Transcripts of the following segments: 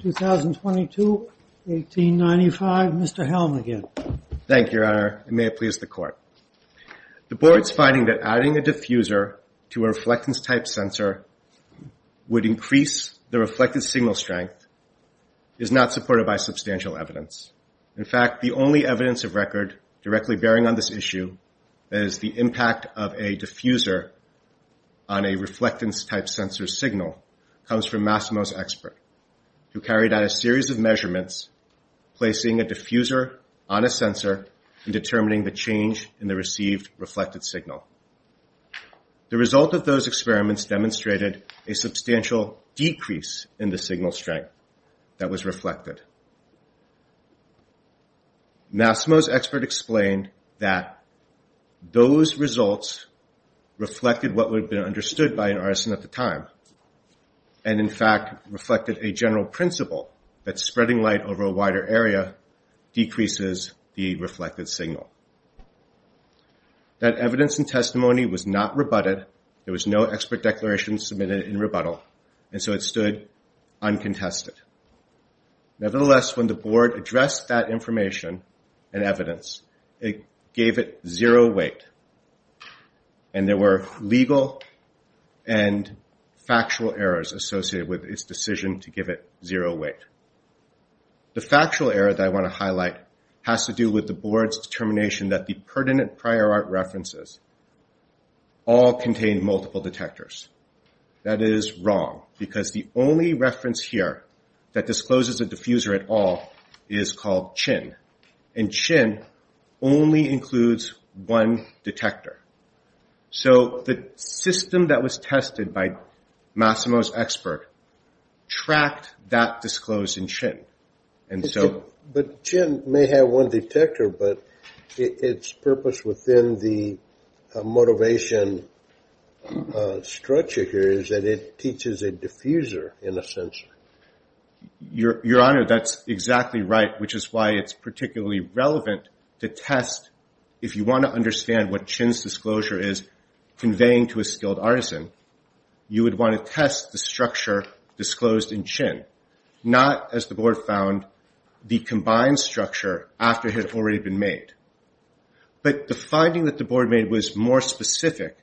2022, 1895. Mr. Helm again. Thank you, Your Honor. May it please the Court. The Board's finding that adding a diffuser to a reflectance-type sensor would increase the reflected signal strength is not supported by substantial evidence. In fact, the only evidence of record directly bearing on this issue, i.e., the impact of a diffuser on a reflectance-type sensor signal, comes from Masimo's expert, who carried out a series of measurements, placing a diffuser on a sensor and determining the change in the received reflected signal. The result of those experiments demonstrated a substantial decrease in the signal strength that was reflected. Masimo's expert explained that those results reflected what would have been understood by an artisan at the time and, in fact, reflected a general principle that spreading light over a wider area decreases the reflected signal. That evidence and testimony was not rebutted. There was no expert declaration submitted in rebuttal, and so it stood uncontested. Nevertheless, when the Board addressed that information and evidence, it gave it zero weight, and there were legal and factual errors associated with its decision to give it zero weight. The factual error that I want to highlight has to do with the Board's determination that the pertinent prior art references all contain multiple detectors. That is wrong, because the only reference here that discloses a diffuser at all is called Chin, and Chin only includes one detector. So the system that was tested by Masimo's expert tracked that disclosed in Chin. But Chin may have one detector, but its purpose within the motivation structure here is that it teaches a diffuser in a sensor. Your Honor, that's exactly right, which is why it's particularly relevant to test. If you want to understand what Chin's disclosure is conveying to a skilled artisan, you would want to test the structure disclosed in Chin, not, as the Board found, the combined structure after it had already been made. But the finding that the Board made was more specific,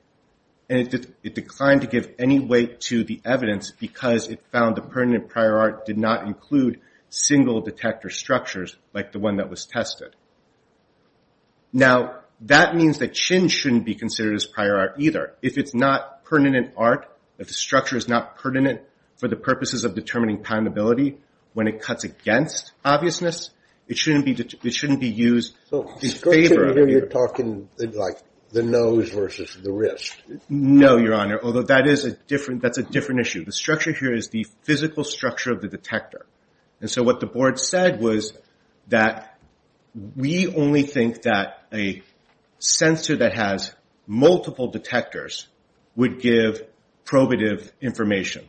and it declined to give any weight to the evidence because it found the pertinent prior art did not include single detector structures like the one that was tested. Now that means that Chin shouldn't be considered as prior art either. If it's not pertinent art, if the structure is not pertinent for the purposes of determining poundability, when it cuts against obviousness, it shouldn't be used in favor of... So the structure here, you're talking like the nose versus the wrist. No, Your Honor, although that's a different issue. The structure here is the physical structure of the detector. And so what the Board said was that we only think that a sensor that has multiple detectors would give probative information.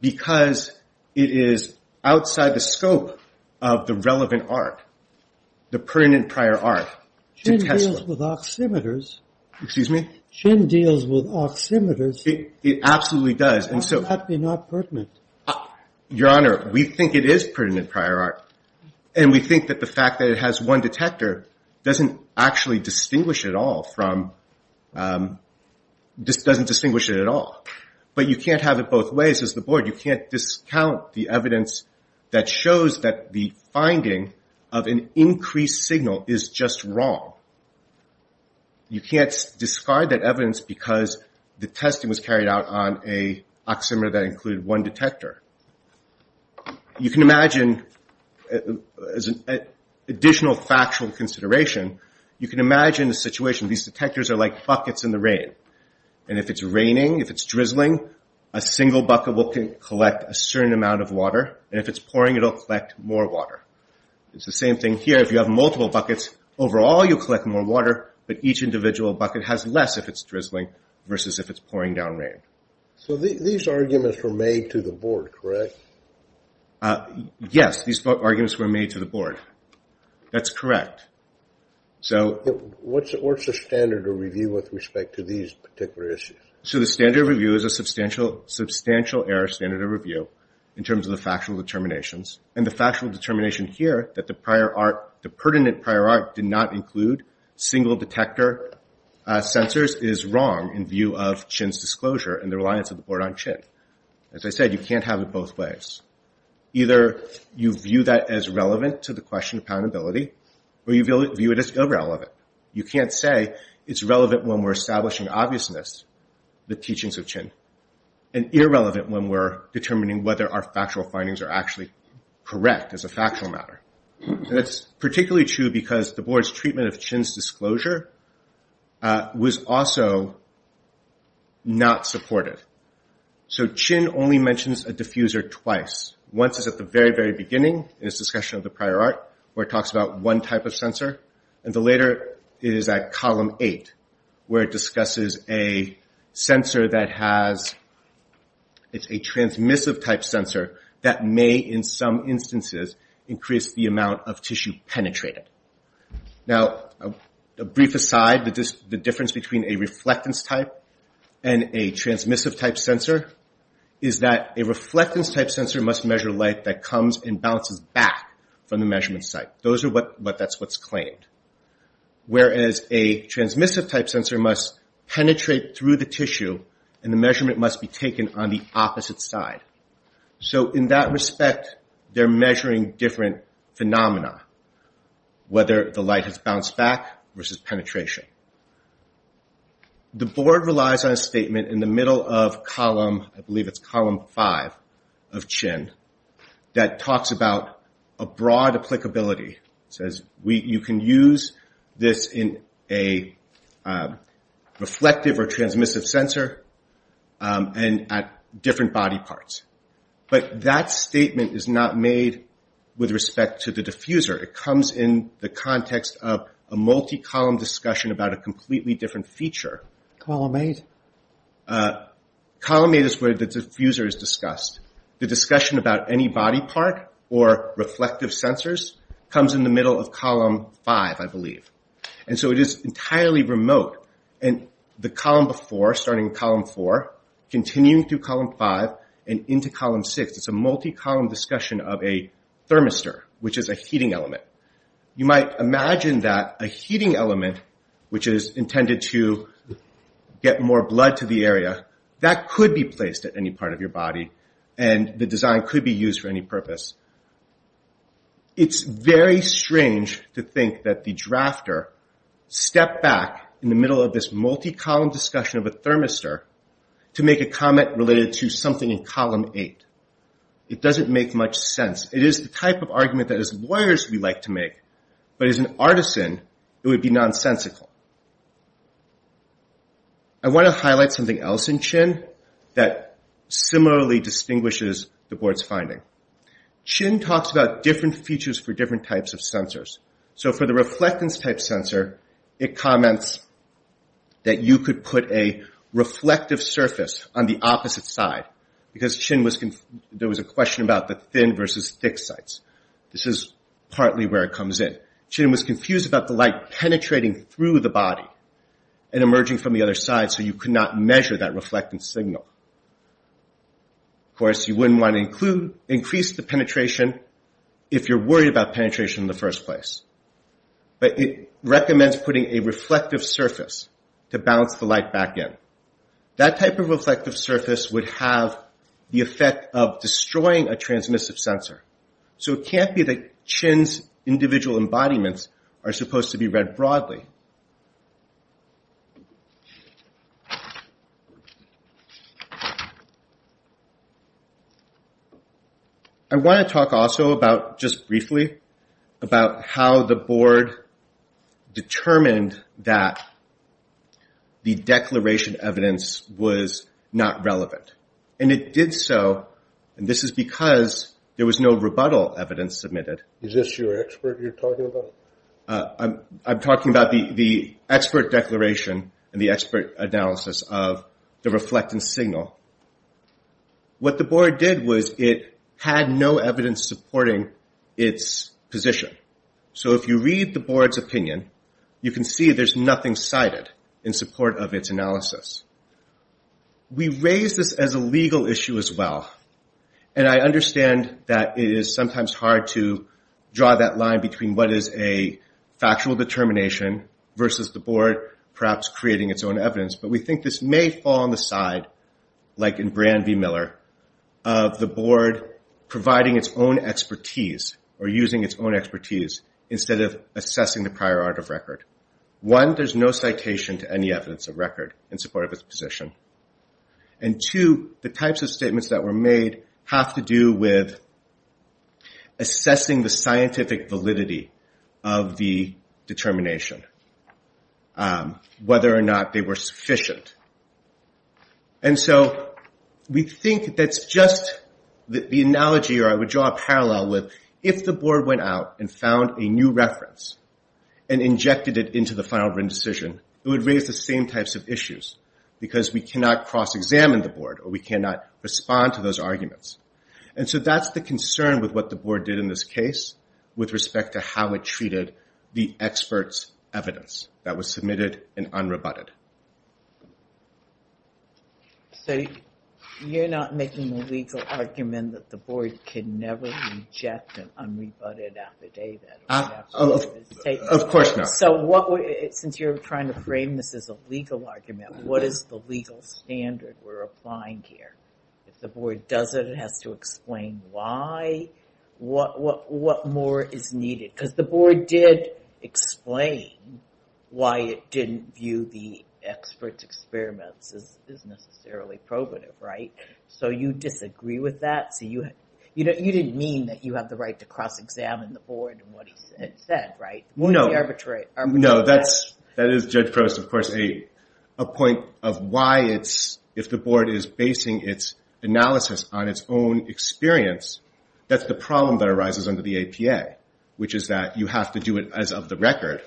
Because it is outside the scope of the relevant art, the pertinent prior art, to test it. Chin deals with oximeters. Excuse me? Chin deals with oximeters. It absolutely does. Why does it have to be not pertinent? Your Honor, we think it is pertinent prior art. And we think that the fact that it has one detector doesn't distinguish it at all. But you can't have it both ways. As the Board, you can't discount the evidence that shows that the finding of an increased signal is just wrong. You can't discard that evidence because the testing was carried out on an oximeter that included one detector. You can imagine, as an additional factual consideration, you can imagine the situation. These detectors are like buckets in the rain. And if it's raining, if it's drizzling, a single bucket will collect a certain amount of water. And if it's pouring, it'll collect more water. It's the same thing here. If you have multiple buckets, overall you'll collect more water, but each individual bucket has less if it's drizzling versus if it's pouring down rain. So these arguments were made to the Board, correct? Yes, these arguments were made to the Board. That's correct. What's the standard of review with respect to these particular issues? So the standard review is a substantial error standard of review in terms of the factual determinations. And the factual determination here that the pertinent prior art did not As I said, you can't have it both ways. Either you view that as relevant to the question of accountability, or you view it as irrelevant. You can't say it's relevant when we're establishing obviousness, the teachings of Chin, and irrelevant when we're determining whether our factual findings are actually correct as a factual matter. That's particularly true because the Board's treatment of Chin's disclosure was also not supportive. So Chin only mentions a diffuser twice. Once is at the very, very beginning in his discussion of the prior art where it talks about one type of sensor, and the later is at column eight where it discusses a sensor that has, it's a transmissive type sensor that may, in some instances, increase the amount of tissue penetrated. Now, a brief aside, the difference between a reflectance type and a transmissive type sensor is that a reflectance type sensor must measure light that comes and bounces back from the measurement site. That's what's claimed. Whereas a transmissive type sensor must penetrate through the tissue, and the measurement must be taken on the opposite side. So in that respect, they're measuring different phenomena, whether the light has bounced back versus penetration. The Board relies on a statement in the middle of column, I believe it's column five of Chin, that talks about a broad applicability. It says you can use this in a reflective or transmissive sensor and at different body parts. But that statement is not made with respect to the discussion about a completely different feature. Column eight is where the diffuser is discussed. The discussion about any body part or reflective sensors comes in the middle of column five, I believe. And so it is entirely remote. And the column before, starting in column four, continuing through column five, and into column six, it's a multi-column discussion of a thermistor, which is a heating element. You might imagine that a heating element, which is intended to get more blood to the area, that could be placed at any part of your body, and the design could be used for any purpose. It's very strange to think that the drafter stepped back in the middle of this multi-column discussion of a thermistor to make a comment related to something in column eight. It doesn't make much sense. It is the type of argument that, as lawyers, we like to make. But as an artisan, it would be nonsensical. I want to highlight something else in Chin that similarly distinguishes the board's finding. Chin talks about different features for different types of sensors. So for the reflectance type sensor, it comments that you could put a reflective surface on the opposite side, because there was a question about the thin versus thick sites. This is partly where it comes in. Chin was confused about the light penetrating through the body and emerging from the other side, so you could not measure that reflectance signal. Of course, you wouldn't want to increase the penetration if you're worried about penetration in the first place. But it recommends putting a reflective surface to bounce the light back in. That type of reflective surface would have the effect of destroying a transmissive sensor. So it can't be that Chin's individual embodiments are supposed to be read broadly. I want to talk also about, just briefly, about how the board determined that the declaration of evidence was not relevant. And it did so, and this is because there was no rebuttal evidence submitted. I'm talking about the expert declaration and the expert analysis of the reflectance signal. What the board did was it had no evidence supporting its position. So if you read the board's opinion, you can see there's nothing cited in support of its analysis. We raise this as a legal issue as well, and I understand that it is sometimes hard to draw that line between what is a factual determination versus the board perhaps creating its own evidence. But we think this may fall on the side, like in Brand v. Miller, of the board providing its own expertise or using its own expertise instead of assessing the prior art of record. One, there's no citation to any evidence of record in support of its position. And two, the types of statements that were made have to do with assessing the scientific validity of the determination, whether or not they were sufficient. And so we think that's just the analogy I would draw a parallel with if the board went out and found a new reference and injected it into the final written decision, it would raise the same types of issues because we cannot cross-examine the board or we cannot respond to those arguments. And so that's the concern with what the board did in this case with respect to how it treated the expert's evidence that was submitted and unrebutted. So you're not making the legal argument that the board can never reject an unrebutted affidavit? Of course not. Since you're trying to frame this as a legal argument, what is the legal standard we're applying here? If the board does it, it has to explain why, what more is needed? Because the board did explain why it didn't view the expert's experiments as necessarily probative, right? So you disagree with that? You didn't mean that you have the right to cross-examine the board and what it said, right? No, that is, Judge Crost, of course, a point of why if the board is basing its analysis on its own experience, that's the problem that arises under the APA, which is that you have to do it as of the record.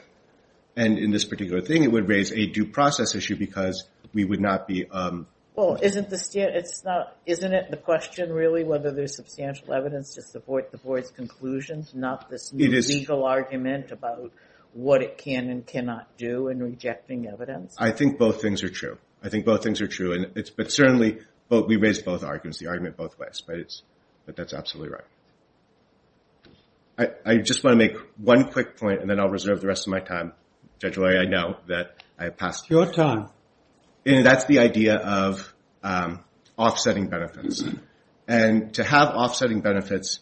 And in this particular thing, it would raise a due process issue because we would not be... Well, isn't it the question, really, whether there's substantial evidence to support the board's conclusions, not this legal argument about what it can and cannot do in rejecting evidence? I think both things are true. I just want to make one quick point and then I'll reserve the rest of my time. Judge Lurie, I know that I have passed your time. And that's the idea of offsetting benefits. And to have offsetting benefits,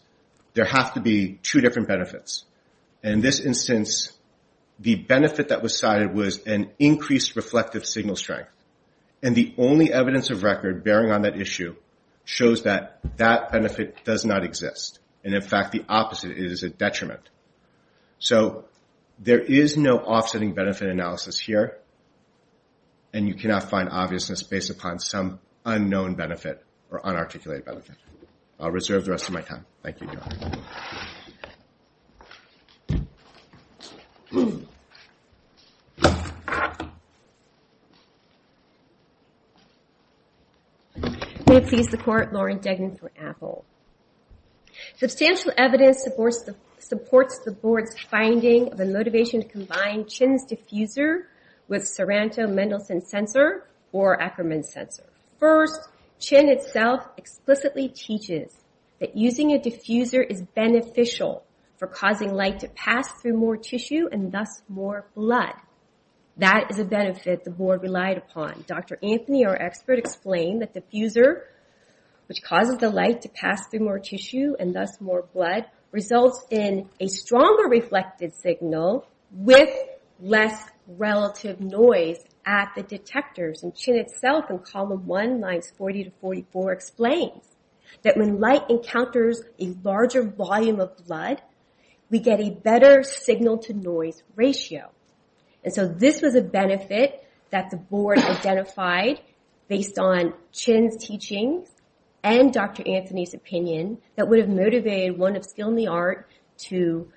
there have to be two different benefits. In this instance, the benefit that was cited was an increased reflective signal strength. And the only evidence of record bearing on that issue shows that that benefit does not exist. And in fact, the opposite is a detriment. So there is no offsetting benefit analysis here. And you cannot find obviousness based upon some unknown benefit or unarticulated benefit. I'll reserve the rest of my time. Thank you. Substantial evidence supports the board's finding of a motivation to combine Chinn's diffuser with Soranto-Mendelsohn sensor or Ackerman sensor. First, Chinn itself explicitly teaches that using a diffuser is beneficial for causing light to pass through more tissue and thus more blood. That is a benefit the board relied upon. Dr. Anthony, our expert, explained that diffuser, which causes the light to pass through more tissue and thus more blood, results in a stronger reflected signal with less relative noise at the detectors. And Chinn itself in column 1, lines 40 to 44 explains that when light encounters a larger volume of blood, we get a better signal to noise ratio. And so this was a benefit that the board identified based on Chinn's teachings and Dr. Anthony's opinion that would have motivated one of Skill in the Art to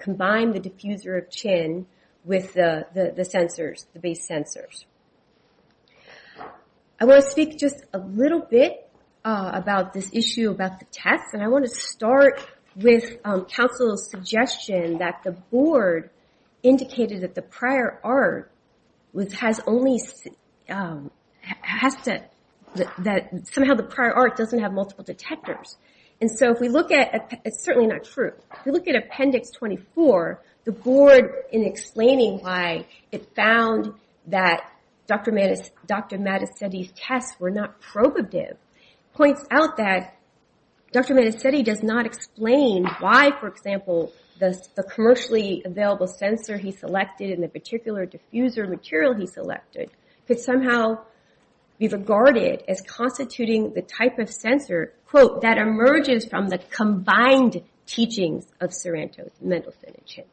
combine the diffuser of Chinn with the sensors, the base sensors. I want to speak just a little bit about this issue about the tests. I want to start with counsel's suggestion that the board indicated that the prior art somehow the prior art doesn't have multiple detectors. It's certainly not true. If you look at appendix 24, the board in explaining why it found that Dr. Mattesetti's tests were not probative, points out that Dr. Mattesetti does not explain why, for example, the commercially available sensor he selected and the particular diffuser material he selected could somehow be regarded as constituting the type of sensor, quote, that emerges from the combined teachings of Sorrento's mental cynicism.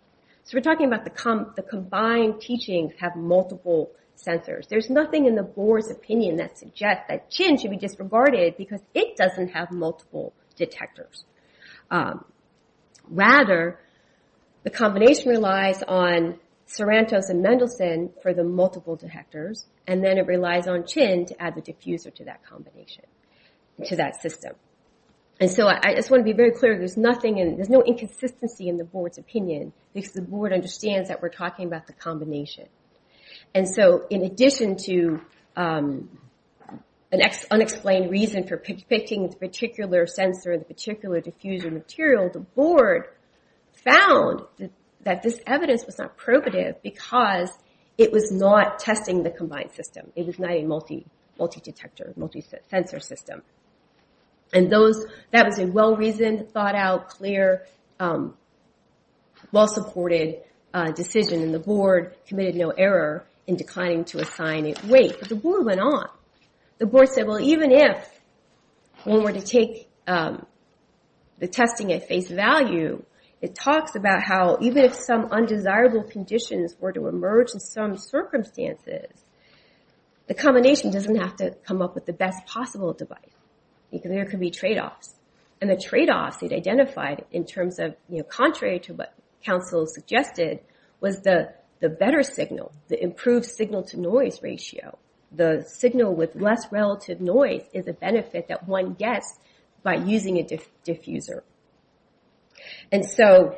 So we're talking about the combined teachings have multiple sensors. There's nothing in the board's opinion that suggests that Chinn should be disregarded because it doesn't have multiple detectors. Rather, the combination relies on Sorrento's and Mendelsohn for the multiple detectors, and then it relies on Chinn to add the diffuser to that combination, to that system. And so I just want to be very clear, there's nothing in, there's no inconsistency in the board's opinion because the board understands that we're talking about the combination. And so in addition to an unexplained reason for picking the particular sensor, the particular diffuser material, the board found that this evidence was not probative because it was not testing the combined system. It was not a multi-detector, multi- pair, well-supported decision, and the board committed no error in declining to assign it weight. But the board went on. The board said, well, even if one were to take the testing at face value, it talks about how even if some undesirable conditions were to emerge in some circumstances, the combination doesn't have to come up with the best possible device because there could be trade-offs. And the trade-offs it identified in terms of contrary to what counsel suggested was the better signal, the improved signal-to-noise ratio. The signal with less relative noise is a benefit that one gets by using a diffuser. And so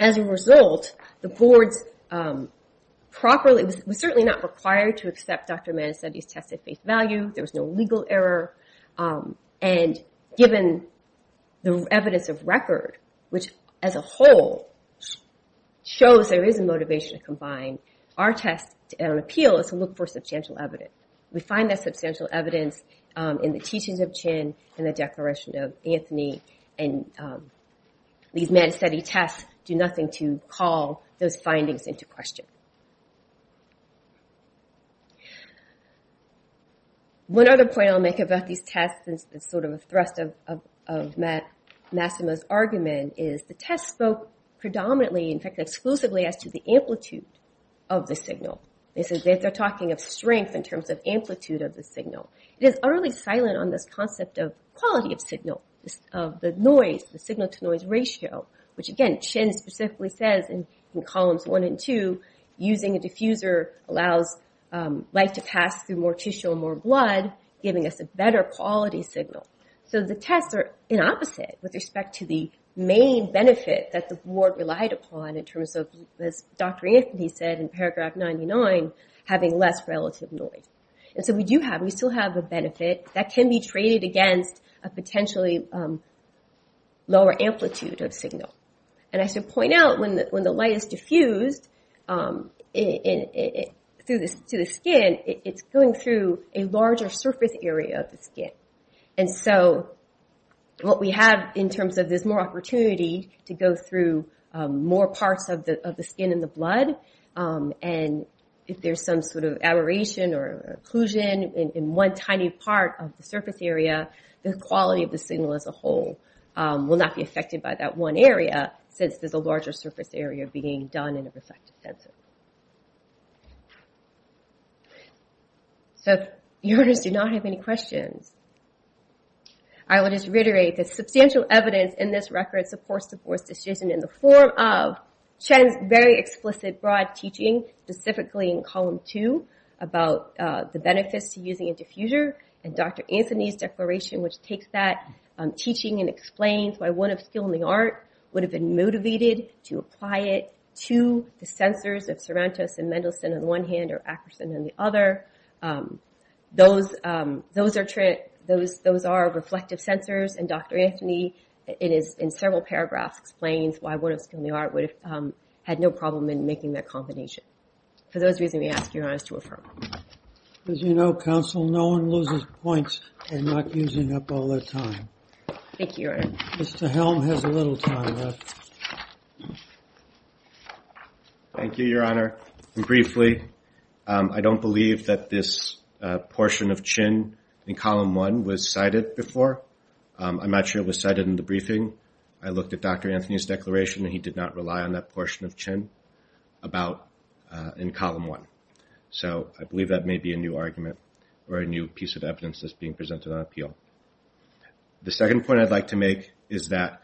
as a result, the board's properly, was certainly not required to accept Dr. Manastedi's test at face value. There was no legal error. And given the evidence of record, which as a whole shows there is a motivation to combine, our test and appeal is to look for substantial evidence. We find that substantial evidence in the teachings of Chin and the Declaration of Anthony and these Manastedi tests do nothing to call those findings into question. One other point I'll make about these tests is sort of a thrust of Matt Massimo's argument is the test spoke predominantly, in fact exclusively, as to the amplitude of the signal. They're talking of strength in terms of amplitude of the signal. It is utterly silent on this concept of quality of signal, of the noise, the signal-to-noise ratio, which again Chin specifically says in columns one and two, using a diffuser allows light to pass through more tissue and more blood, giving us a better quality signal. So the tests are in opposite with respect to the main benefit that the board relied upon in terms of, as Dr. Anthony said in paragraph 99, having less relative noise. And so we do have, we still have the benefit that can be traded against a potentially lower amplitude of signal. And I should point out when the light is diffused to the skin, it's going through a larger surface area of the skin. And so what we have in terms of there's more noise, and if there's some sort of aberration or occlusion in one tiny part of the surface area, the quality of the signal as a whole will not be affected by that one area, since there's a larger surface area being done in a reflective sensor. So if you do not have any questions, I will just reiterate that substantial evidence in this teaching, specifically in column two, about the benefits to using a diffuser, and Dr. Anthony's declaration, which takes that teaching and explains why one of skill in the art would have been motivated to apply it to the sensors of Cervantes and Mendelsohn in one hand or Akerson in the other. Those are reflective sensors, and Dr. Anthony in several paragraphs explains why one of skill in the art would have had no problem in making that combination. For those reasons, we ask Your Honor to refer. As you know, counsel, no one loses points for not using up all their time. Thank you, Your Honor. Mr. Helm has a little time left. Thank you, Your Honor. And briefly, I don't believe that this portion of Chin in column one was cited before. I'm not sure it was cited in the briefing. I looked at Dr. Anthony's declaration, and he did not rely on that portion of Chin in column one. So I believe that may be a new argument or a new piece of evidence that's being presented on appeal. The second point I'd like to make is that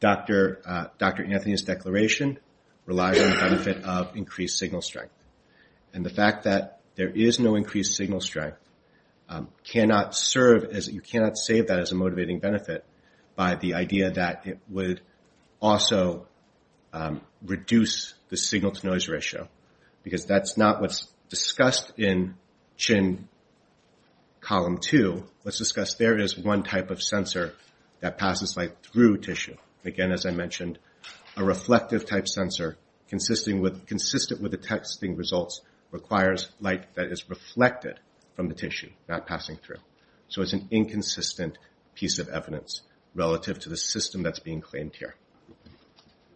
Dr. Anthony's declaration relies on the benefit of increased signal strength. And the fact that there is no increased signal strength, you cannot save that as a motivating benefit by the idea that it would also reduce the signal-to-noise ratio, because that's not what's discussed in Chin column two. Let's discuss there is one type of sensor that passes light through tissue. Again, as I said, it requires light that is reflected from the tissue, not passing through. So it's an inconsistent piece of evidence relative to the system that's being claimed here.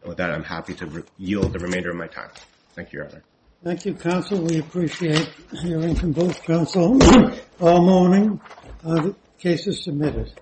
With that, I'm happy to yield the remainder of my time. Thank you, Your Honor. Thank you, counsel. We appreciate hearing from both counsels. All morning, the case is submitted.